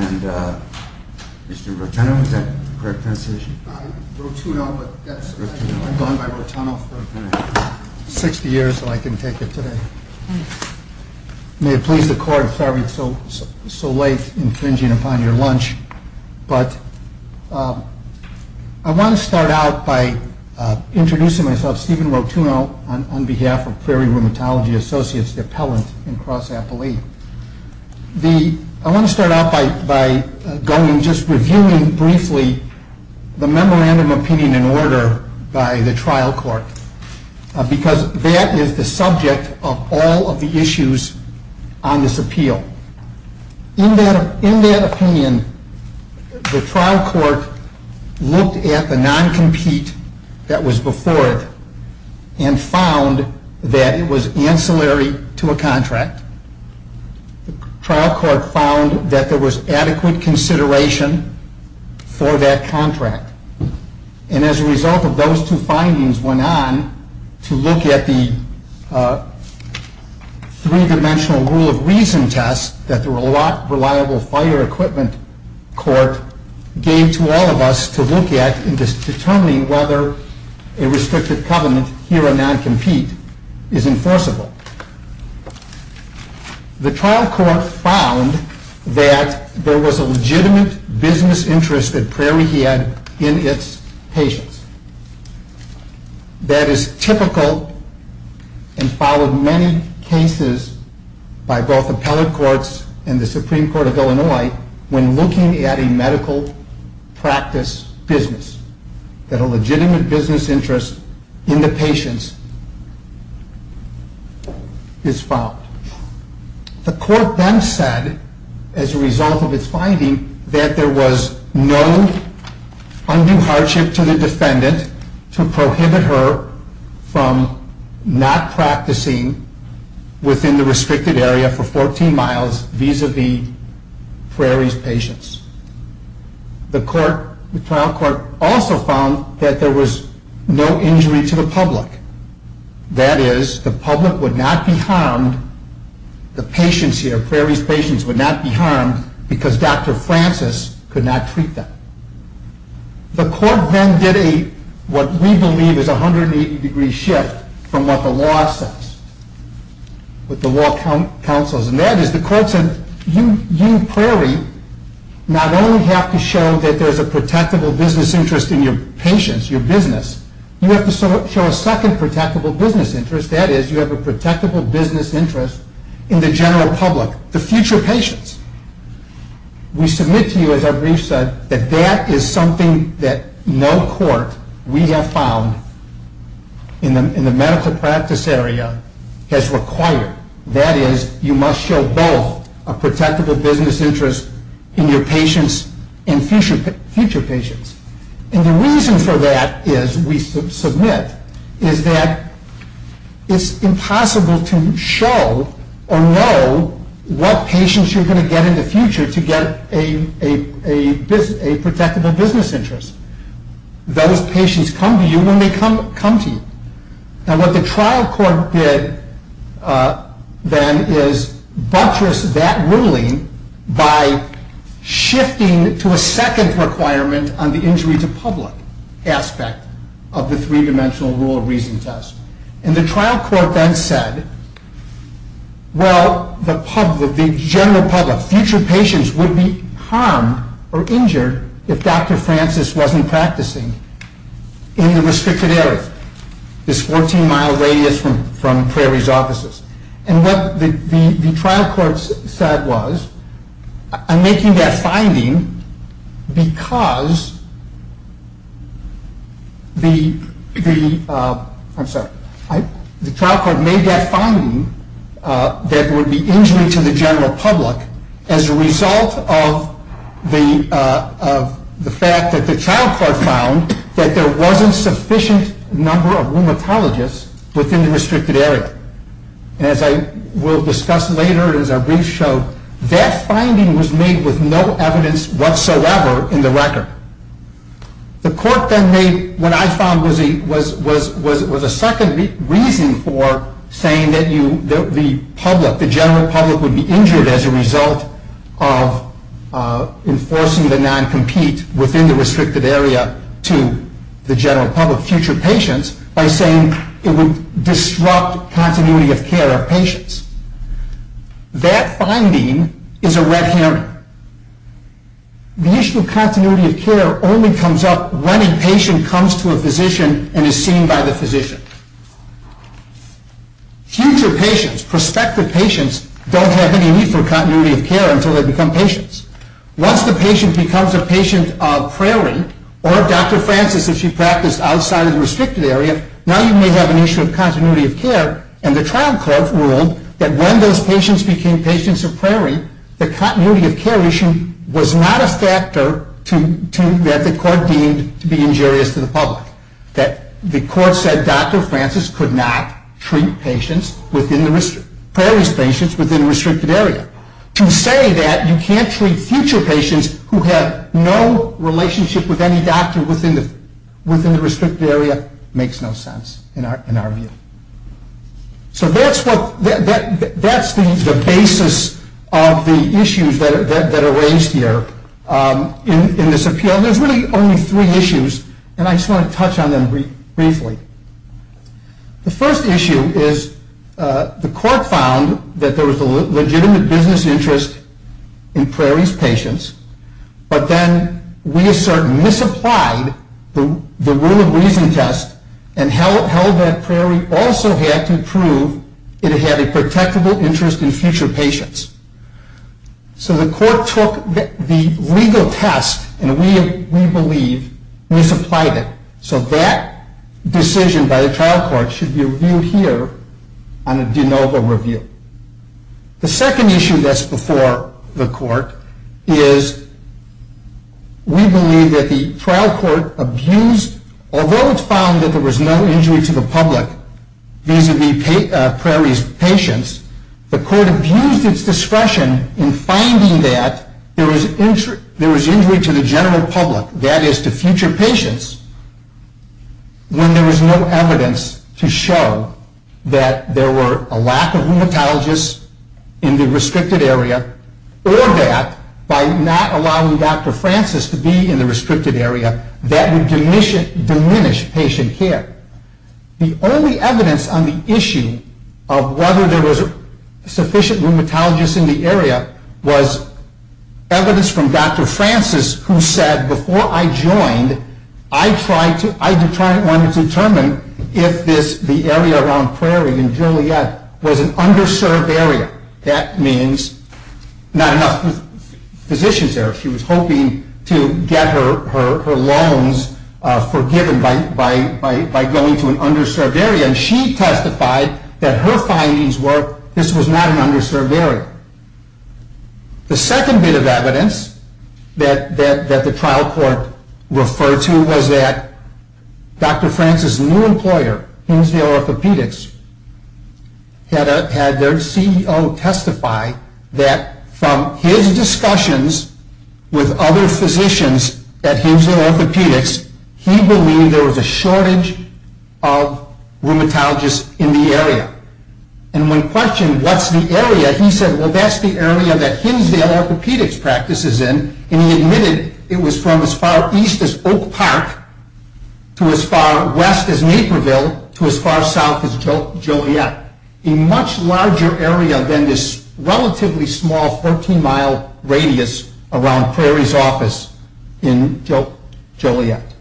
And Mr. Rotuno, is that the correct pronunciation? Rotuno, yes. I've gone by Rotuno for 60 years so I can take it today. May it please the court I'm sorry I'm so late infringing upon your lunch. But I want to start out by introducing myself. Stephen Rotuno on behalf of Prairie Rheumatology Associates, the appellant in cross-appellate. I want to start out by just reviewing briefly the memorandum of opinion and order by the trial court. Because that is the subject of all of the issues on this appeal. In that opinion, the trial court looked at the non-compete that was before it and found that it was ancillary to a contract. The trial court found that there was adequate consideration for that contract. And as a result of those two findings went on to look at the three-dimensional rule of reason test that the reliable fire equipment court gave to all of us to look at in determining whether a restricted covenant here on non-compete is enforceable. The trial court found that there was a legitimate business interest that Prairie had in its patients. That is typical and followed many cases by both appellate courts and the Supreme Court of Illinois when looking at a medical practice business. That a legitimate business interest in the patients is found. The court then said, as a result of its finding, that there was no undue hardship to the defendant to prohibit her from not practicing within the restricted area for 14 miles vis-à-vis Prairie's patients. The trial court also found that there was no injury to the public. That is, the public would not be harmed, Prairie's patients would not be harmed because Dr. Francis could not treat them. The court then did what we believe is a 180 degree shift from what the law says. That is, the court said, you Prairie, not only have to show that there is a protectable business interest in your patients, your business, you have to show a second protectable business interest. That is, you have a protectable business interest in the general public, the future patients. We submit to you, as our brief said, that that is something that no court we have found in the medical practice area has required. That is, you must show both a protectable business interest in your patients and future patients. And the reason for that is, we submit, is that it is impossible to show or know what patients you are going to get in the future to get a protectable business interest. Those patients come to you when they come to you. Now what the trial court did then is buttress that ruling by shifting to a second requirement on the injury to public aspect of the three dimensional rule of reason test. And the trial court then said, well, the general public, future patients would be harmed or injured if Dr. Francis wasn't practicing in the restricted area. This 14 mile radius from Prairie's offices. And what the trial court said was, I'm making that finding because the, I'm sorry, the trial court made that finding that there would be injury to the general public as a result of the fact that the trial court found that there wasn't sufficient number of rheumatologists within the restricted area. And as I will discuss later, as our brief showed, that finding was made with no evidence whatsoever in the record. The court then made, what I found was a second reason for saying that the public, the general public would be injured as a result of enforcing the non-compete within the restricted area to the general public, future patients, by saying it would disrupt continuity of care of patients. That finding is a red herring. The issue of continuity of care only comes up when a patient comes to a physician and is seen by the physician. Future patients, prospective patients, don't have any need for continuity of care until they become patients. Once the patient becomes a patient of Prairie or Dr. Francis if she practiced outside of the restricted area, now you may have an issue of continuity of care and the trial court ruled that when those patients became patients of Prairie, the continuity of care issue was not a factor that the court deemed to be injurious to the public. The court said Dr. Francis could not treat Prairie's patients within the restricted area. To say that you can't treat future patients who have no relationship with any doctor within the restricted area makes no sense in our view. So that's the basis of the issues that are raised here in this appeal. There's really only three issues and I just want to touch on them briefly. The first issue is the court found that there was a legitimate business interest in Prairie's patients, but then we misapplied the rule of reason test and held that Prairie also had to prove it had a protectable interest in future patients. So the court took the legal test and we believe misapplied it. So that decision by the trial court should be reviewed here on a de novo review. The second issue that's before the court is we believe that the trial court abused, although it found that there was no injury to the public vis-a-vis Prairie's patients, the court abused its discretion in finding that there was injury to the general public, that is to future patients, when there was no evidence to show that there were a lack of rheumatologists in the restricted area, or that by not allowing Dr. Francis to be in the restricted area that would diminish patient care. The only evidence on the issue of whether there was sufficient rheumatologists in the area was evidence from Dr. Francis who said, before I joined, I wanted to determine if the area around Prairie and Juliet was an underserved area. That means not enough physicians there. She was hoping to get her loans forgiven by going to an underserved area, and she testified that her findings were this was not an underserved area. The second bit of evidence that the trial court referred to was that Dr. Francis' new employer, Hinsdale Orthopedics, had their CEO testify that from his discussions with other physicians at Hinsdale Orthopedics, he believed there was a shortage of rheumatologists in the area. And when questioned, what's the area, he said, well, that's the area that Hinsdale Orthopedics practices in, and he admitted it was from as far east as Oak Park to as far west as Naperville to as far south as Joliet, a much larger area than this relatively small 14-mile radius around Prairie's office in Joliet.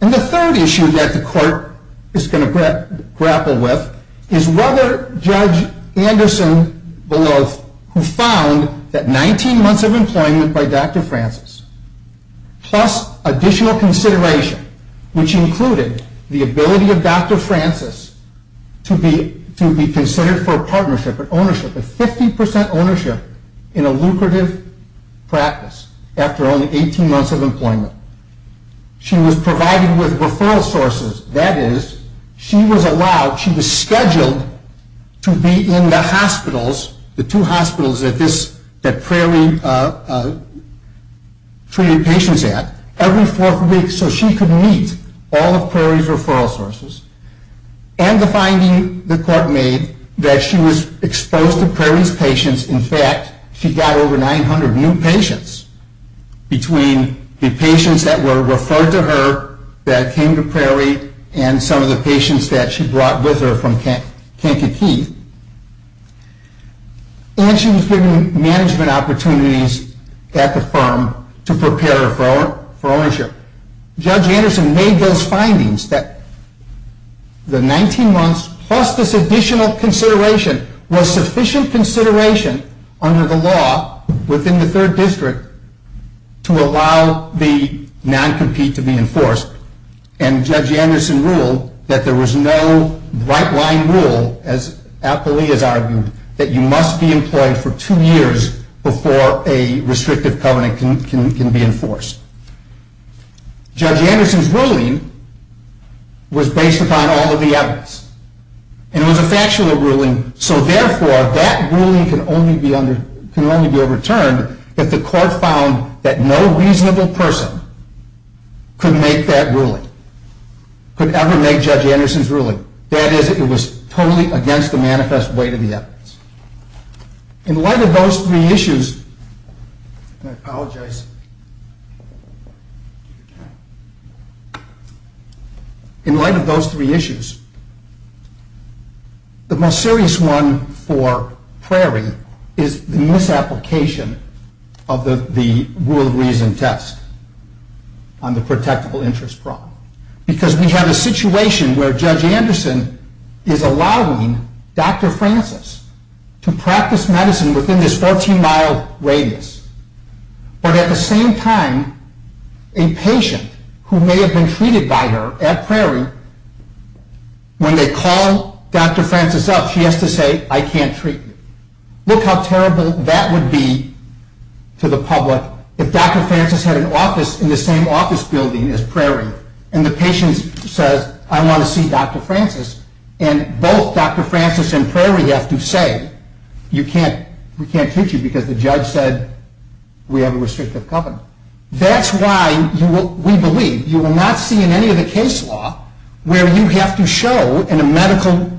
And the third issue that the court is going to grapple with is whether Judge Anderson-Beloff, who found that 19 months of employment by Dr. Francis, plus additional consideration, which included the ability of Dr. Francis to be considered for partnership and ownership, a 50% ownership in a lucrative practice after only 18 months of employment, she was provided with referral sources, that is, she was allowed, she was scheduled to be in the hospitals, the two hospitals that Prairie treated patients at, every fourth week so she could meet all of Prairie's referral sources. And the finding the court made that she was exposed to Prairie's patients, in fact, she got over 900 new patients between the patients that were referred to her that came to Prairie and some of the patients that she brought with her from Kankakee, and she was given management opportunities at the firm to prepare her for ownership. Judge Anderson made those findings that the 19 months plus this additional consideration was sufficient consideration under the law within the third district to allow the non-compete to be enforced, and Judge Anderson ruled that there was no right-line rule, as Appoli has argued, that you must be employed for two years before a restrictive covenant can be enforced. Judge Anderson's ruling was based upon all of the evidence, and it was a factual ruling, so therefore that ruling can only be overturned if the court found that no reasonable person could make that ruling, could ever make Judge Anderson's ruling, that is, it was totally against the manifest weight of the evidence. In light of those three issues, and I apologize, in light of those three issues, the most serious one for Prairie is the misapplication of the rule of reason test on the protectable interest problem, because we have a situation where Judge Anderson is allowing Dr. Francis to practice medicine within this 14-mile radius, but at the same time, a patient who may have been treated by her at Prairie, when they call Dr. Francis up, she has to say, I can't treat you. Look how terrible that would be to the public if Dr. Francis had an office in the same office building as Prairie, and the patient says, I want to see Dr. Francis, and both Dr. Francis and Prairie have to say, we can't treat you because the judge said we have a restrictive covenant. That's why we believe you will not see in any of the case law where you have to show in a medical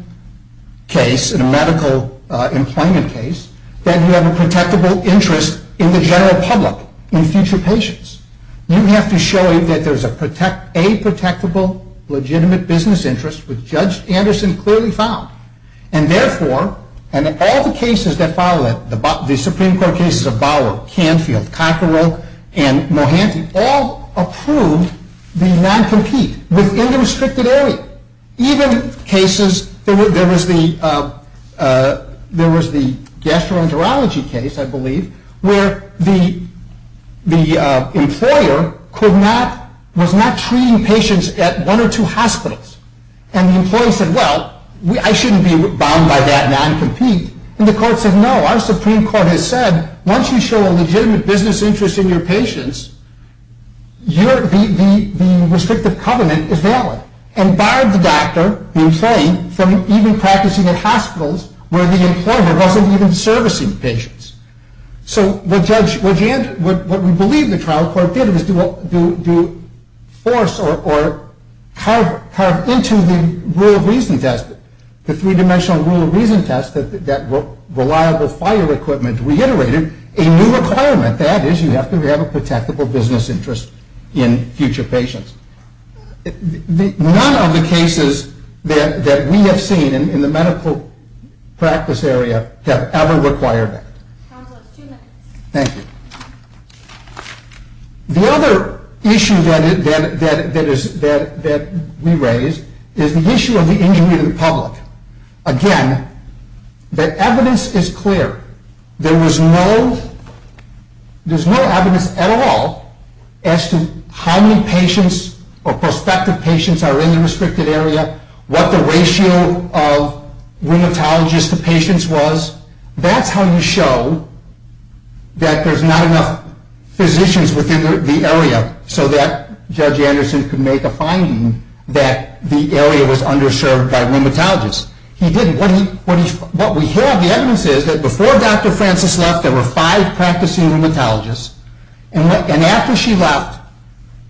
case, in a medical employment case, that you have a protectable interest in the general public, in future patients, you have to show that there is a protectable, legitimate business interest, which Judge Anderson clearly found, and therefore, and all the cases that follow that, the Supreme Court cases of Bauer, Canfield, Cockerill, and Mohanty, all approved the non-compete within the restricted area. Even cases, there was the gastroenterology case, I believe, where the employer was not treating patients at one or two hospitals, and the employee said, well, I shouldn't be bound by that non-compete, and the court said, no, our Supreme Court has said, once you show a legitimate business interest in your patients, the restrictive covenant is valid, and barred the doctor, the employee, from even practicing at hospitals where the employer wasn't even servicing patients. So what we believe the trial court did was to force or carve into the rule of reason test, the three-dimensional rule of reason test that reliable fire equipment reiterated, and a new requirement, that is, you have to have a protectable business interest in future patients. None of the cases that we have seen in the medical practice area have ever required that. Thank you. The other issue that we raised is the issue of the injury to the public. Again, the evidence is clear. There's no evidence at all as to how many patients or prospective patients are in the restricted area, what the ratio of rheumatologists to patients was. That's how you show that there's not enough physicians within the area so that Judge Anderson could make a finding that the area was underserved by rheumatologists. He didn't. What we have, the evidence is that before Dr. Francis left, there were five practicing rheumatologists, and after she left,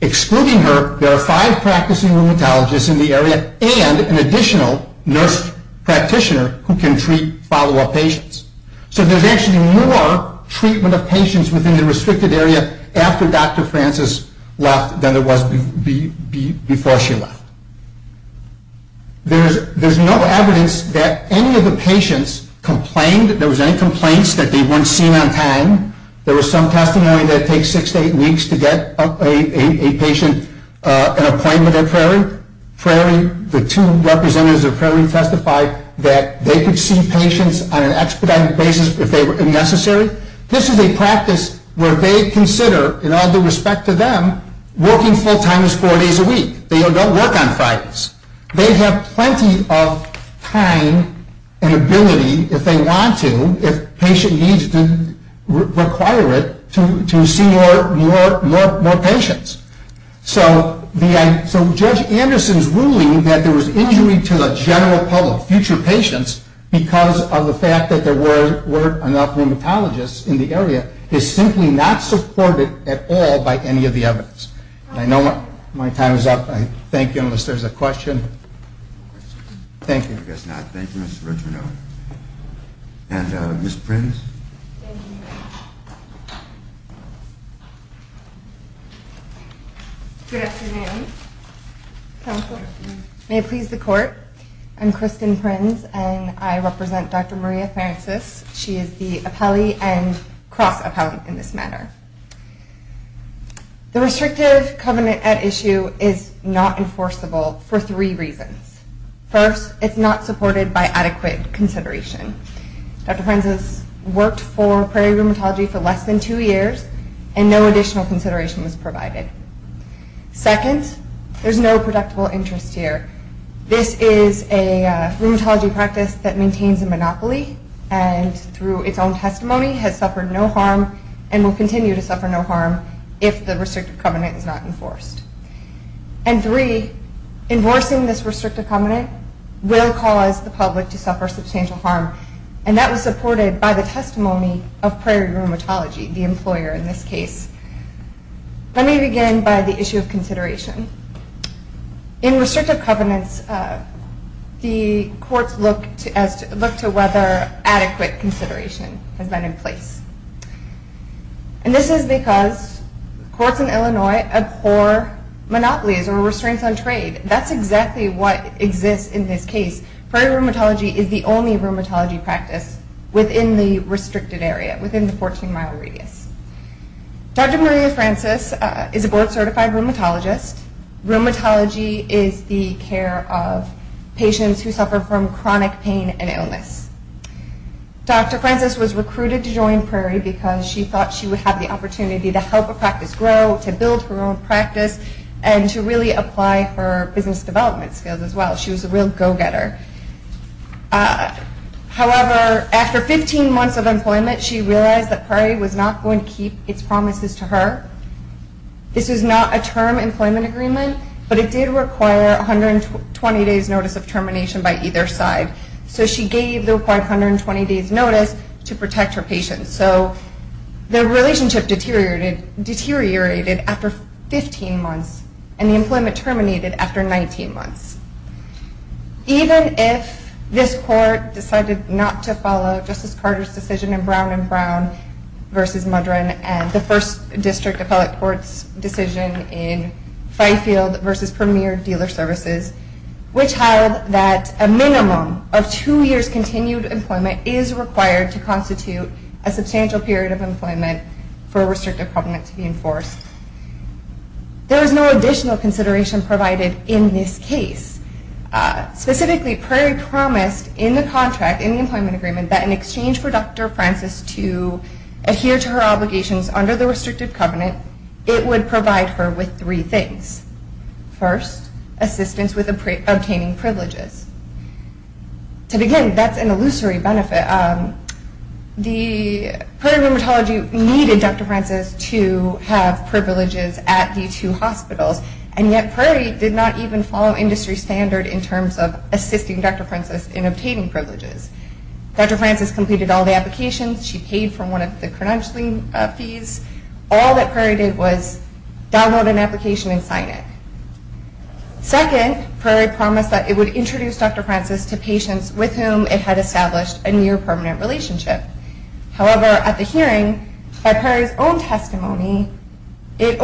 excluding her, there are five practicing rheumatologists in the area and an additional nurse practitioner who can treat follow-up patients. So there's actually more treatment of patients within the restricted area after Dr. Francis left than there was before she left. There's no evidence that any of the patients complained, that there was any complaints that they weren't seen on time. There was some testimony that it takes six to eight weeks to get a patient an appointment at Prairie. The two representatives of Prairie testified that they could see patients on an expedited basis if they were necessary. This is a practice where they consider, in all due respect to them, working full-time is four days a week. They don't work on Fridays. They have plenty of time and ability, if they want to, if patient needs to require it, to see more patients. So Judge Anderson's ruling that there was injury to the general public, future patients, because of the fact that there weren't enough rheumatologists in the area, is simply not supported at all by any of the evidence. I know my time is up. I thank you, unless there's a question. Thank you. I guess not. Thank you, Ms. Retroneau. And Ms. Prins. Thank you. Good afternoon, counsel. May it please the court. I'm Kristen Prins, and I represent Dr. Maria Francis. She is the appellee and cross-appellant in this matter. The restrictive covenant at issue is not enforceable for three reasons. First, it's not supported by adequate consideration. Dr. Francis worked for Prairie Rheumatology for less than two years, and no additional consideration was provided. Second, there's no predictable interest here. This is a rheumatology practice that maintains a monopoly, and through its own testimony has suffered no harm and will continue to suffer no harm if the restrictive covenant is not enforced. And three, enforcing this restrictive covenant will cause the public to suffer substantial harm, and that was supported by the testimony of Prairie Rheumatology, the employer in this case. Let me begin by the issue of consideration. In restrictive covenants, the courts look to whether adequate consideration has been in place. And this is because courts in Illinois abhor monopolies or restraints on trade. That's exactly what exists in this case. Prairie Rheumatology is the only rheumatology practice within the restricted area, within the 14-mile radius. Dr. Maria Francis is a board-certified rheumatologist. Rheumatology is the care of patients who suffer from chronic pain and illness. Dr. Francis was recruited to join Prairie because she thought she would have the opportunity to help a practice grow, to build her own practice, and to really apply her business development skills as well. She was a real go-getter. However, after 15 months of employment, she realized that Prairie was not going to keep its promises to her. This is not a term employment agreement, but it did require 120 days' notice of termination by either side. So she gave the required 120 days' notice to protect her patients. So their relationship deteriorated after 15 months, and the employment terminated after 19 months. Even if this court decided not to follow Justice Carter's decision in Brown v. Mudron and the First District Appellate Court's decision in Fifield v. Premier Dealer Services, which held that a minimum of two years' continued employment is required to constitute a substantial period of employment for a restrictive covenant to be enforced, there was no additional consideration provided in this case. Specifically, Prairie promised in the contract, in the employment agreement, that in exchange for Dr. Francis to adhere to her obligations under the restrictive covenant, it would provide her with three things. First, assistance with obtaining privileges. Again, that's an illusory benefit. Prairie Rheumatology needed Dr. Francis to have privileges at the two hospitals, and yet Prairie did not even follow industry standard in terms of assisting Dr. Francis in obtaining privileges. Dr. Francis completed all the applications. She paid for one of the credentialing fees. All that Prairie did was download an application and sign it. Second, Prairie promised that it would introduce Dr. Francis to patients with whom it had established a near-permanent relationship. However, at the hearing, by Prairie's own testimony, it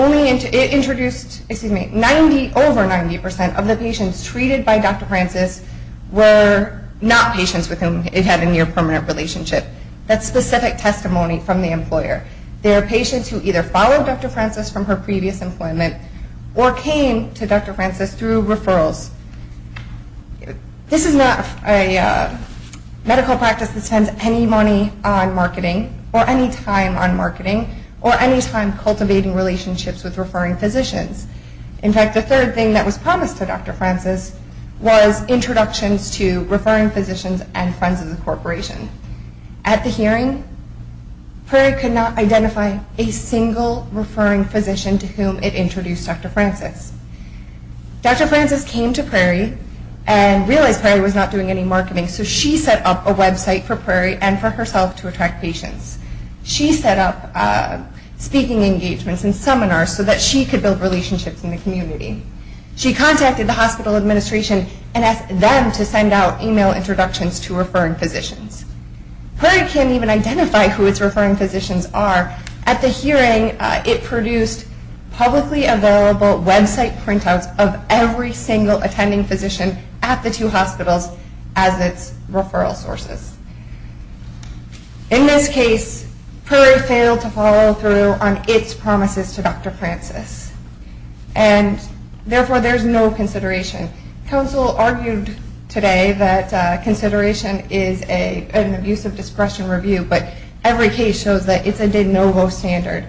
introduced over 90 percent of the patients treated by Dr. Francis were not patients with whom it had a near-permanent relationship. That's specific testimony from the employer. They are patients who either followed Dr. Francis from her previous employment or came to Dr. Francis through referrals. This is not a medical practice that spends any money on marketing or any time on marketing or any time cultivating relationships with referring physicians. In fact, the third thing that was promised to Dr. Francis was introductions to referring physicians and friends of the corporation. At the hearing, Prairie could not identify a single referring physician to whom it introduced Dr. Francis. Dr. Francis came to Prairie and realized Prairie was not doing any marketing, so she set up a website for Prairie and for herself to attract patients. She set up speaking engagements and seminars so that she could build relationships in the community. She contacted the hospital administration and asked them to send out email introductions to referring physicians. Prairie can't even identify who its referring physicians are. At the hearing, it produced publicly available website printouts of every single attending physician at the two hospitals as its referral sources. In this case, Prairie failed to follow through on its promises to Dr. Francis, and therefore there's no consideration. Council argued today that consideration is an abusive discretion review, but every case shows that it's a de novo standard,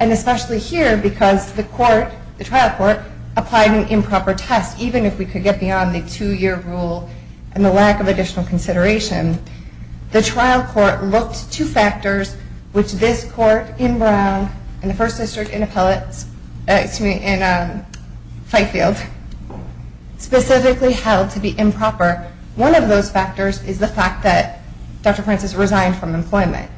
and especially here because the trial court applied an improper test, even if we could get beyond the two-year rule and the lack of additional consideration. The trial court looked to factors which this court in Brown and the First District in Fightfield specifically held to be improper. One of those factors is the fact that Dr. Francis resigned from employment.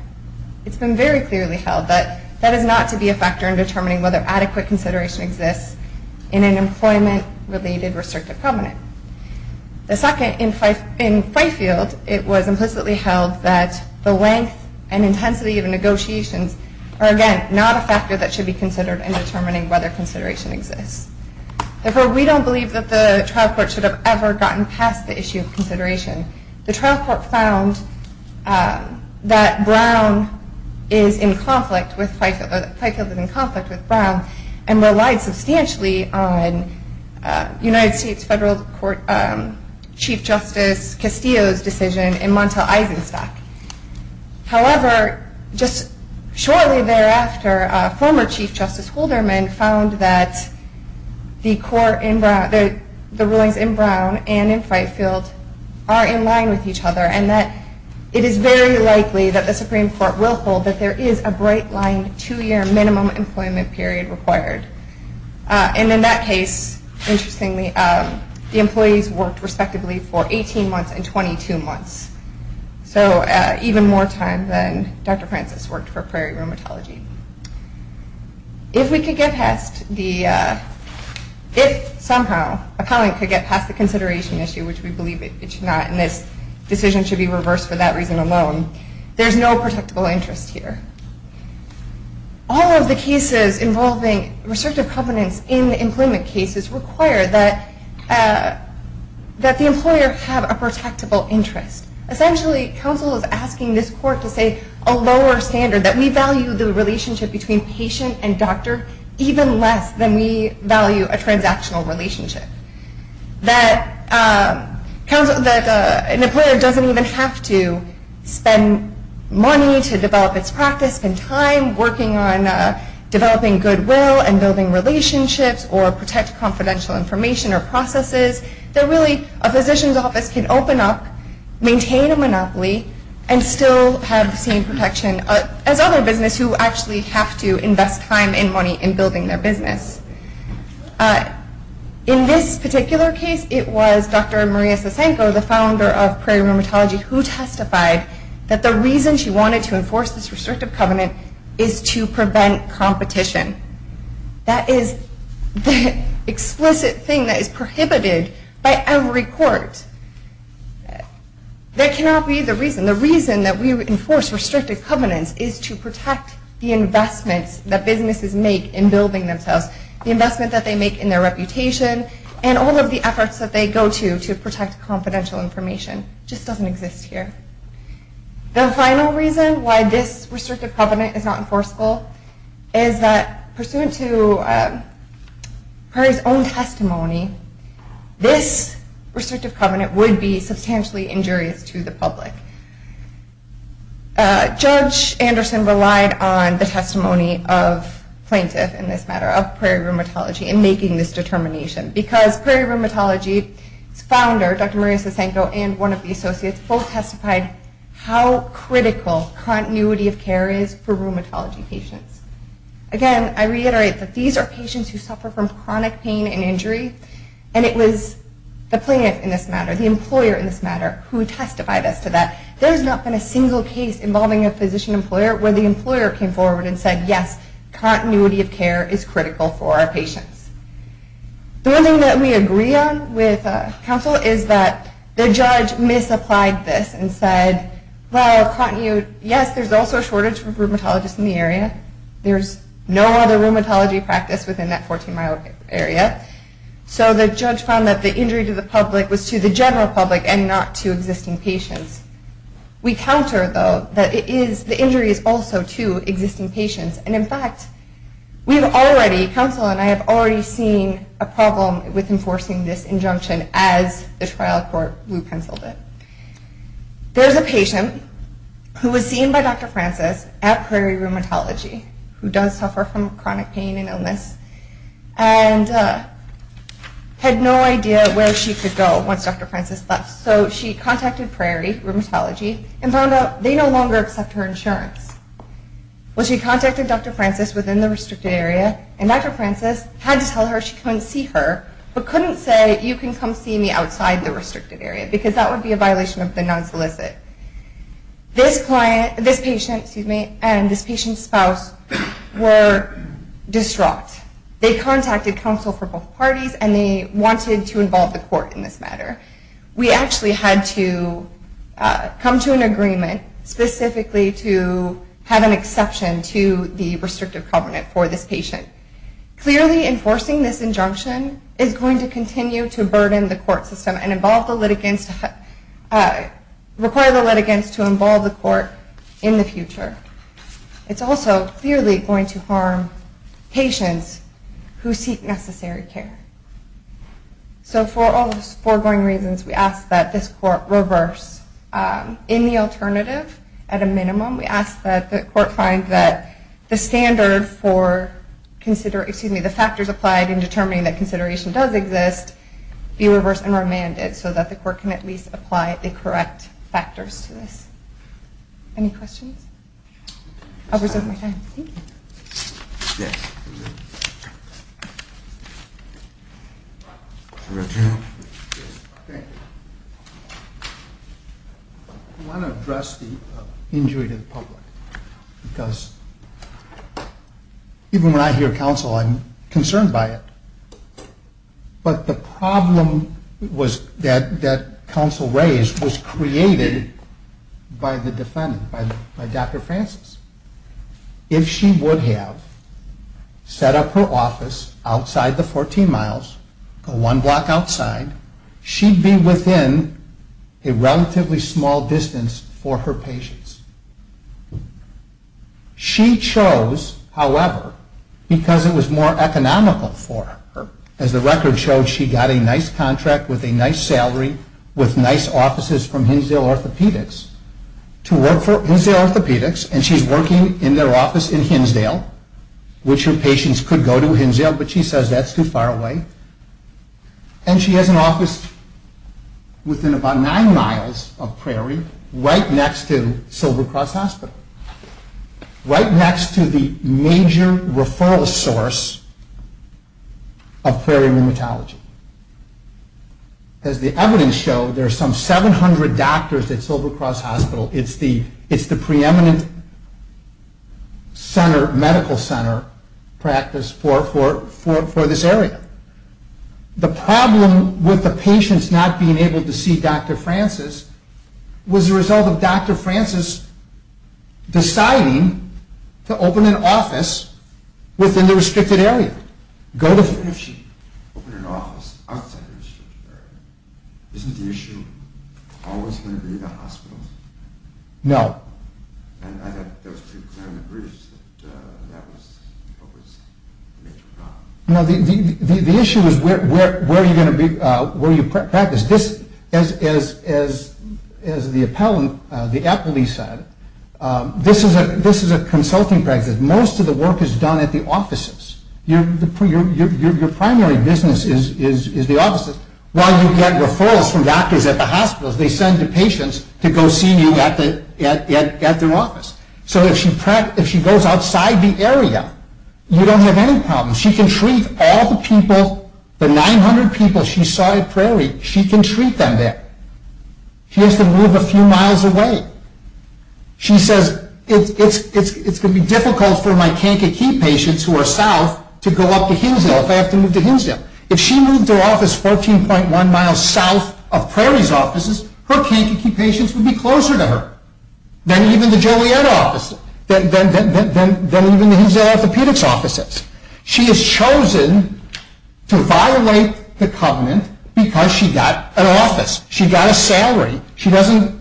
It's been very clearly held that that is not to be a factor in determining whether adequate consideration exists in an employment-related restrictive covenant. In Fightfield, it was implicitly held that the length and intensity of negotiations are, again, not a factor that should be considered in determining whether consideration exists. Therefore, we don't believe that the trial court should have ever gotten past the issue of consideration. The trial court found that Brown is in conflict with Fightfield, or that Fightfield is in conflict with Brown, and relied substantially on United States Federal Court Chief Justice Castillo's decision in Montel-Eisenstack. However, just shortly thereafter, former Chief Justice Hulderman found that the court in Brown, the rulings in Brown and in Fightfield are in line with each other, and that it is very likely that the Supreme Court will hold that there is a bright-line two-year minimum employment period required. And in that case, interestingly, the employees worked respectively for 18 months and 22 months. So even more time than Dr. Francis worked for Prairie Rheumatology. If we could get past the... If, somehow, a covenant could get past the consideration issue, which we believe it should not, and this decision should be reversed for that reason alone, there's no protectable interest here. All of the cases involving restrictive covenants in the employment cases require that the employer have a protectable interest. Essentially, counsel is asking this court to say a lower standard, that we value the relationship between patient and doctor even less than we value a transactional relationship. That an employer doesn't even have to spend money to develop its practice, spend time working on developing goodwill and building relationships, or protect confidential information or processes. That really, a physician's office can open up, maintain a monopoly, and still have the same protection as other businesses who actually have to invest time and money in building their business. In this particular case, it was Dr. Maria Sasenko, the founder of Prairie Rheumatology, who testified that the reason she wanted to enforce this restrictive covenant is to prevent competition. That is the explicit thing that is prohibited by every court. That cannot be the reason. The reason that we enforce restrictive covenants is to protect the investments that businesses make in building themselves, the investment that they make in their reputation, and all of the efforts that they go to to protect confidential information. It just doesn't exist here. The final reason why this restrictive covenant is not enforceable is that pursuant to Prairie's own testimony, this restrictive covenant would be substantially injurious to the public. Judge Anderson relied on the testimony of plaintiffs in this matter, of Prairie Rheumatology, in making this determination because Prairie Rheumatology's founder, Dr. Maria Sasenko, and one of the associates both testified how critical continuity of care is for rheumatology patients. Again, I reiterate that these are patients who suffer from chronic pain and injury, and it was the plaintiff in this matter, the employer in this matter, who testified as to that. There has not been a single case involving a physician employer where the employer came forward and said, yes, continuity of care is critical for our patients. The one thing that we agree on with counsel is that the judge misapplied this and said, well, yes, there's also a shortage of rheumatologists in the area. There's no other rheumatology practice within that 14-mile area. So the judge found that the injury to the public was to the general public and not to existing patients. We counter, though, that the injury is also to existing patients, and in fact, we've already, counsel and I, have already seen a problem with enforcing this injunction as the trial court blue-penciled it. There's a patient who was seen by Dr. Francis at Prairie Rheumatology who does suffer from chronic pain and illness and had no idea where she could go once Dr. Francis left. So she contacted Prairie Rheumatology and found out they no longer accept her insurance. Well, she contacted Dr. Francis within the restricted area, and Dr. Francis had to tell her she couldn't see her but couldn't say you can come see me outside the restricted area because that would be a violation of the non-solicit. This patient and this patient's spouse were distraught. They contacted counsel for both parties, and they wanted to involve the court in this matter. We actually had to come to an agreement specifically to have an exception to the restrictive covenant for this patient. Clearly, enforcing this injunction is going to continue to burden the court system and require the litigants to involve the court in the future. It's also clearly going to harm patients who seek necessary care. So for all those foregoing reasons, we ask that this court reverse. In the alternative, at a minimum, we ask that the court find that the standard for the factors applied in determining that consideration does exist be reversed and remanded so that the court can at least apply the correct factors to this. Any questions? I'll reserve my time. I want to address the injury to the public. Because even when I hear counsel, I'm concerned by it. But the problem that counsel raised was created by the defendant, by Dr. Francis. If she would have set up her office outside the 14 miles, one block outside, she'd be within a relatively small distance for her patients. She chose, however, because it was more economical for her. As the record showed, she got a nice contract with a nice salary with nice offices from Hinsdale Orthopedics to work for Hinsdale Orthopedics. And she's working in their office in Hinsdale, which her patients could go to Hinsdale, but she says that's too far away. And she has an office within about nine miles of Prairie, right next to Silver Cross Hospital, right next to the major referral source of Prairie Rheumatology. As the evidence showed, there are some 700 doctors at Silver Cross Hospital. It's the preeminent medical center practice for this area. The problem with the patients not being able to see Dr. Francis was the result of Dr. Francis deciding to open an office within the restricted area. If she opened an office outside the restricted area, isn't the issue always going to be the hospitals? No. And I thought that was pretty clear in the briefs that that was what was the major problem. No, the issue is where you're going to be, where you practice. This, as the appellant, the appellee said, this is a consulting practice. Most of the work is done at the offices. Your primary business is the offices. While you get referrals from doctors at the hospitals, they send the patients to go see you at their office. So if she goes outside the area, you don't have any problems. She can treat all the people, the 900 people she saw at Prairie, she can treat them there. She has to move a few miles away. She says it's going to be difficult for my can't-get-keep patients who are south to go up to Hinsdale if I have to move to Hinsdale. If she moved to an office 14.1 miles south of Prairie's offices, her can't-get-keep patients would be closer to her than even the Joliet offices, than even the Hinsdale orthopedics offices. She has chosen to violate the covenant because she got an office. She got a salary. She has a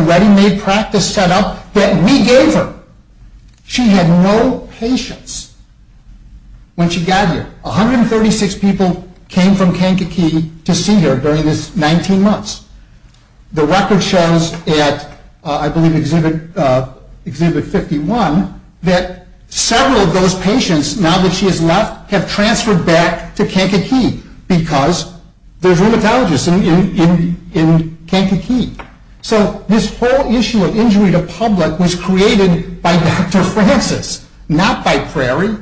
ready-made practice set up that we gave her. She had no patients when she got here. 136 people came from can't-get-keep to see her during this 19 months. The record shows at, I believe, Exhibit 51, that several of those patients, now that she has left, have transferred back to can't-get-keep because there's rheumatologists in can't-get-keep. So this whole issue of injury to public was created by Dr. Francis, not by Prairie.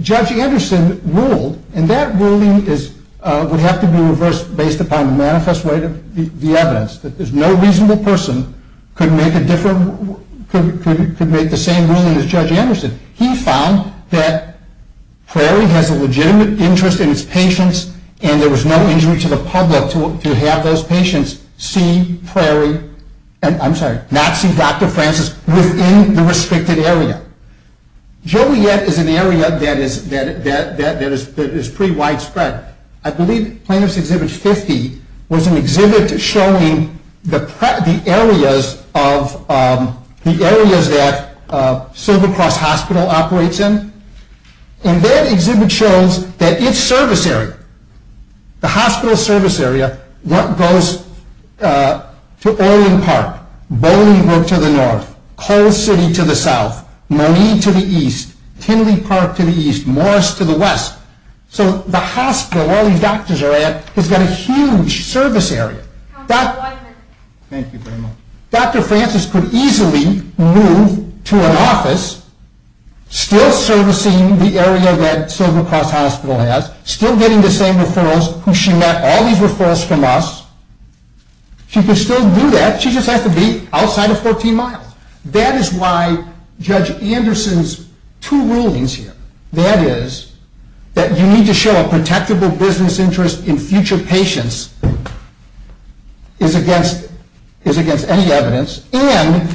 Judge Anderson ruled, and that ruling would have to be reversed based upon the manifest way of the evidence, that no reasonable person could make the same ruling as Judge Anderson. He found that Prairie has a legitimate interest in its patients and there was no injury to the public to have those patients see Prairie, I'm sorry, not see Dr. Francis, within the restricted area. Joliet is an area that is pretty widespread. I believe Plaintiff's Exhibit 50 was an exhibit showing the areas that Silver Cross Hospital operates in. And that exhibit shows that its service area, the hospital service area, goes to Orion Park, Bolingbroke to the north, Cole City to the south, Monee to the east, Kinley Park to the east, Morris to the west. So the hospital, where all these doctors are at, has got a huge service area. Thank you very much. Dr. Francis could easily move to an office, still servicing the area that Silver Cross Hospital has, still getting the same referrals who she met, all these referrals from us, she could still do that, she just has to be outside of 14 miles. That is why Judge Anderson's two rulings here, that is that you need to show a protectable business interest in future patients is against any evidence, and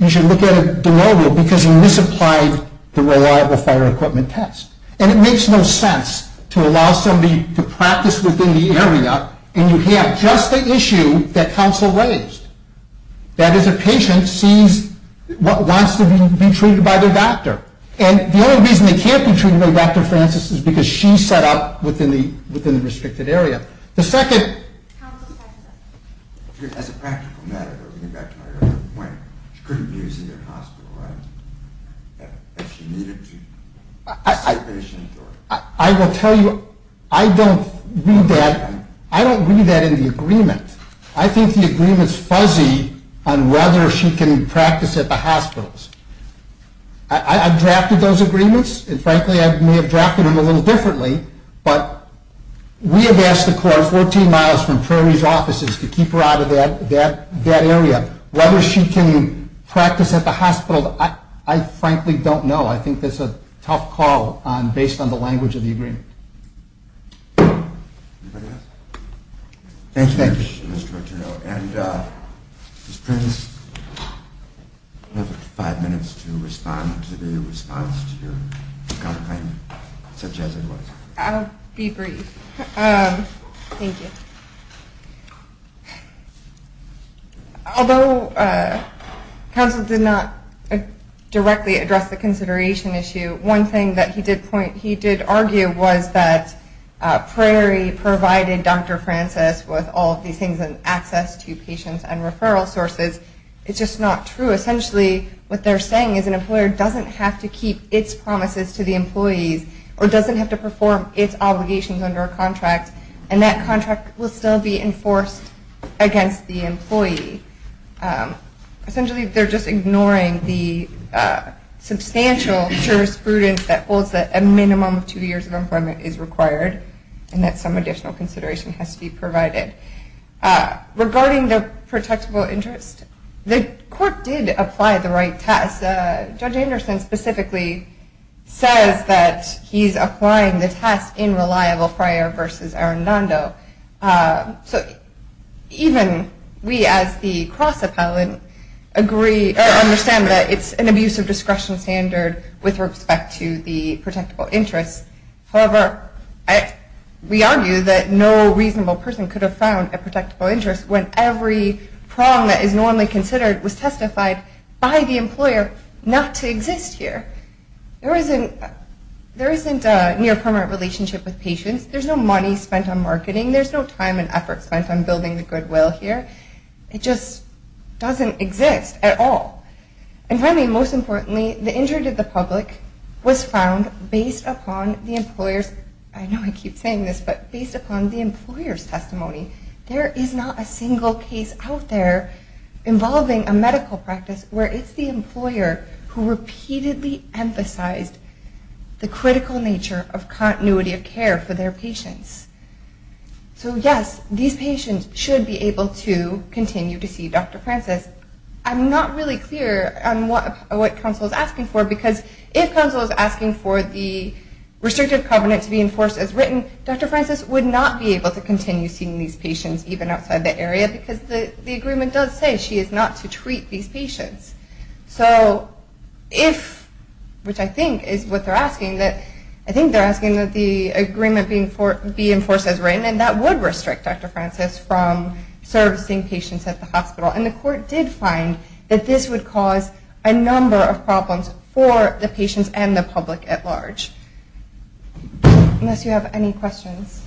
you should look at the rule because you misapplied the reliable fire equipment test. And it makes no sense to allow somebody to practice within the area and you have just the issue that counsel raised, that is a patient sees what wants to be treated by their doctor. And the only reason they can't be treated by Dr. Francis is because she set up within the restricted area. The second... As a practical matter, going back to my earlier point, she couldn't be using the hospital, right? If she needed to see patients or... I will tell you, I don't read that in the agreement. I think the agreement is fuzzy on whether she can practice at the hospitals. I have drafted those agreements, and frankly I may have drafted them a little differently, but we have asked the court 14 miles from Prairie's offices to keep her out of that area. Whether she can practice at the hospital, I frankly don't know. I think that is a tough call based on the language of the agreement. Anybody else? Thank you, Mr. Arturo. And Ms. Prince, you have five minutes to respond to the response to your comment, such as it was. I'll be brief. Thank you. Although counsel did not directly address the consideration issue, one thing that he did point, he did argue, was that Prairie provided Dr. Francis with all of these things and access to patients and referral sources. It's just not true. Essentially what they're saying is an employer doesn't have to keep its promises to the employees or doesn't have to perform its obligations under a contract, and that contract will still be enforced against the employee. Essentially they're just ignoring the substantial jurisprudence that holds that a minimum of two years of employment is required and that some additional consideration has to be provided. Regarding the protectable interest, the court did apply the right test. Judge Anderson specifically says that he's applying the test in reliable prior versus arendando. So even we as the cross-appellant understand that it's an abuse of discretion standard with respect to the protectable interest. However, we argue that no reasonable person could have found a protectable interest when every problem that is normally considered was testified by the employer not to exist here. There isn't a near-permanent relationship with patients. There's no money spent on marketing. There's no time and effort spent on building the goodwill here. It just doesn't exist at all. And finally and most importantly, the injury to the public was found based upon the employer's testimony. There is not a single case out there involving a medical practice where it's the employer who repeatedly emphasized the critical nature of continuity of care for their patients. So, yes, these patients should be able to continue to see Dr. Francis. I'm not really clear on what counsel is asking for because if counsel is asking for the restrictive covenant to be enforced as written, Dr. Francis would not be able to continue seeing these patients even outside the area because the agreement does say she is not to treat these patients. So if, which I think is what they're asking, that I think they're asking that the agreement be enforced as written and that would restrict Dr. Francis from servicing patients at the hospital. And the court did find that this would cause a number of problems for the patients and the public at large. Unless you have any questions.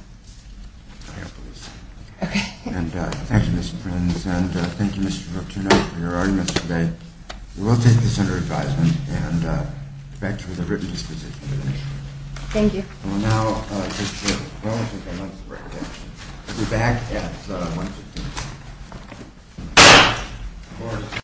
Thank you, Ms. Prince. And thank you, Mr. Fortunoff, for your arguments today. We will take this under advisement and back to the written exposition. Thank you.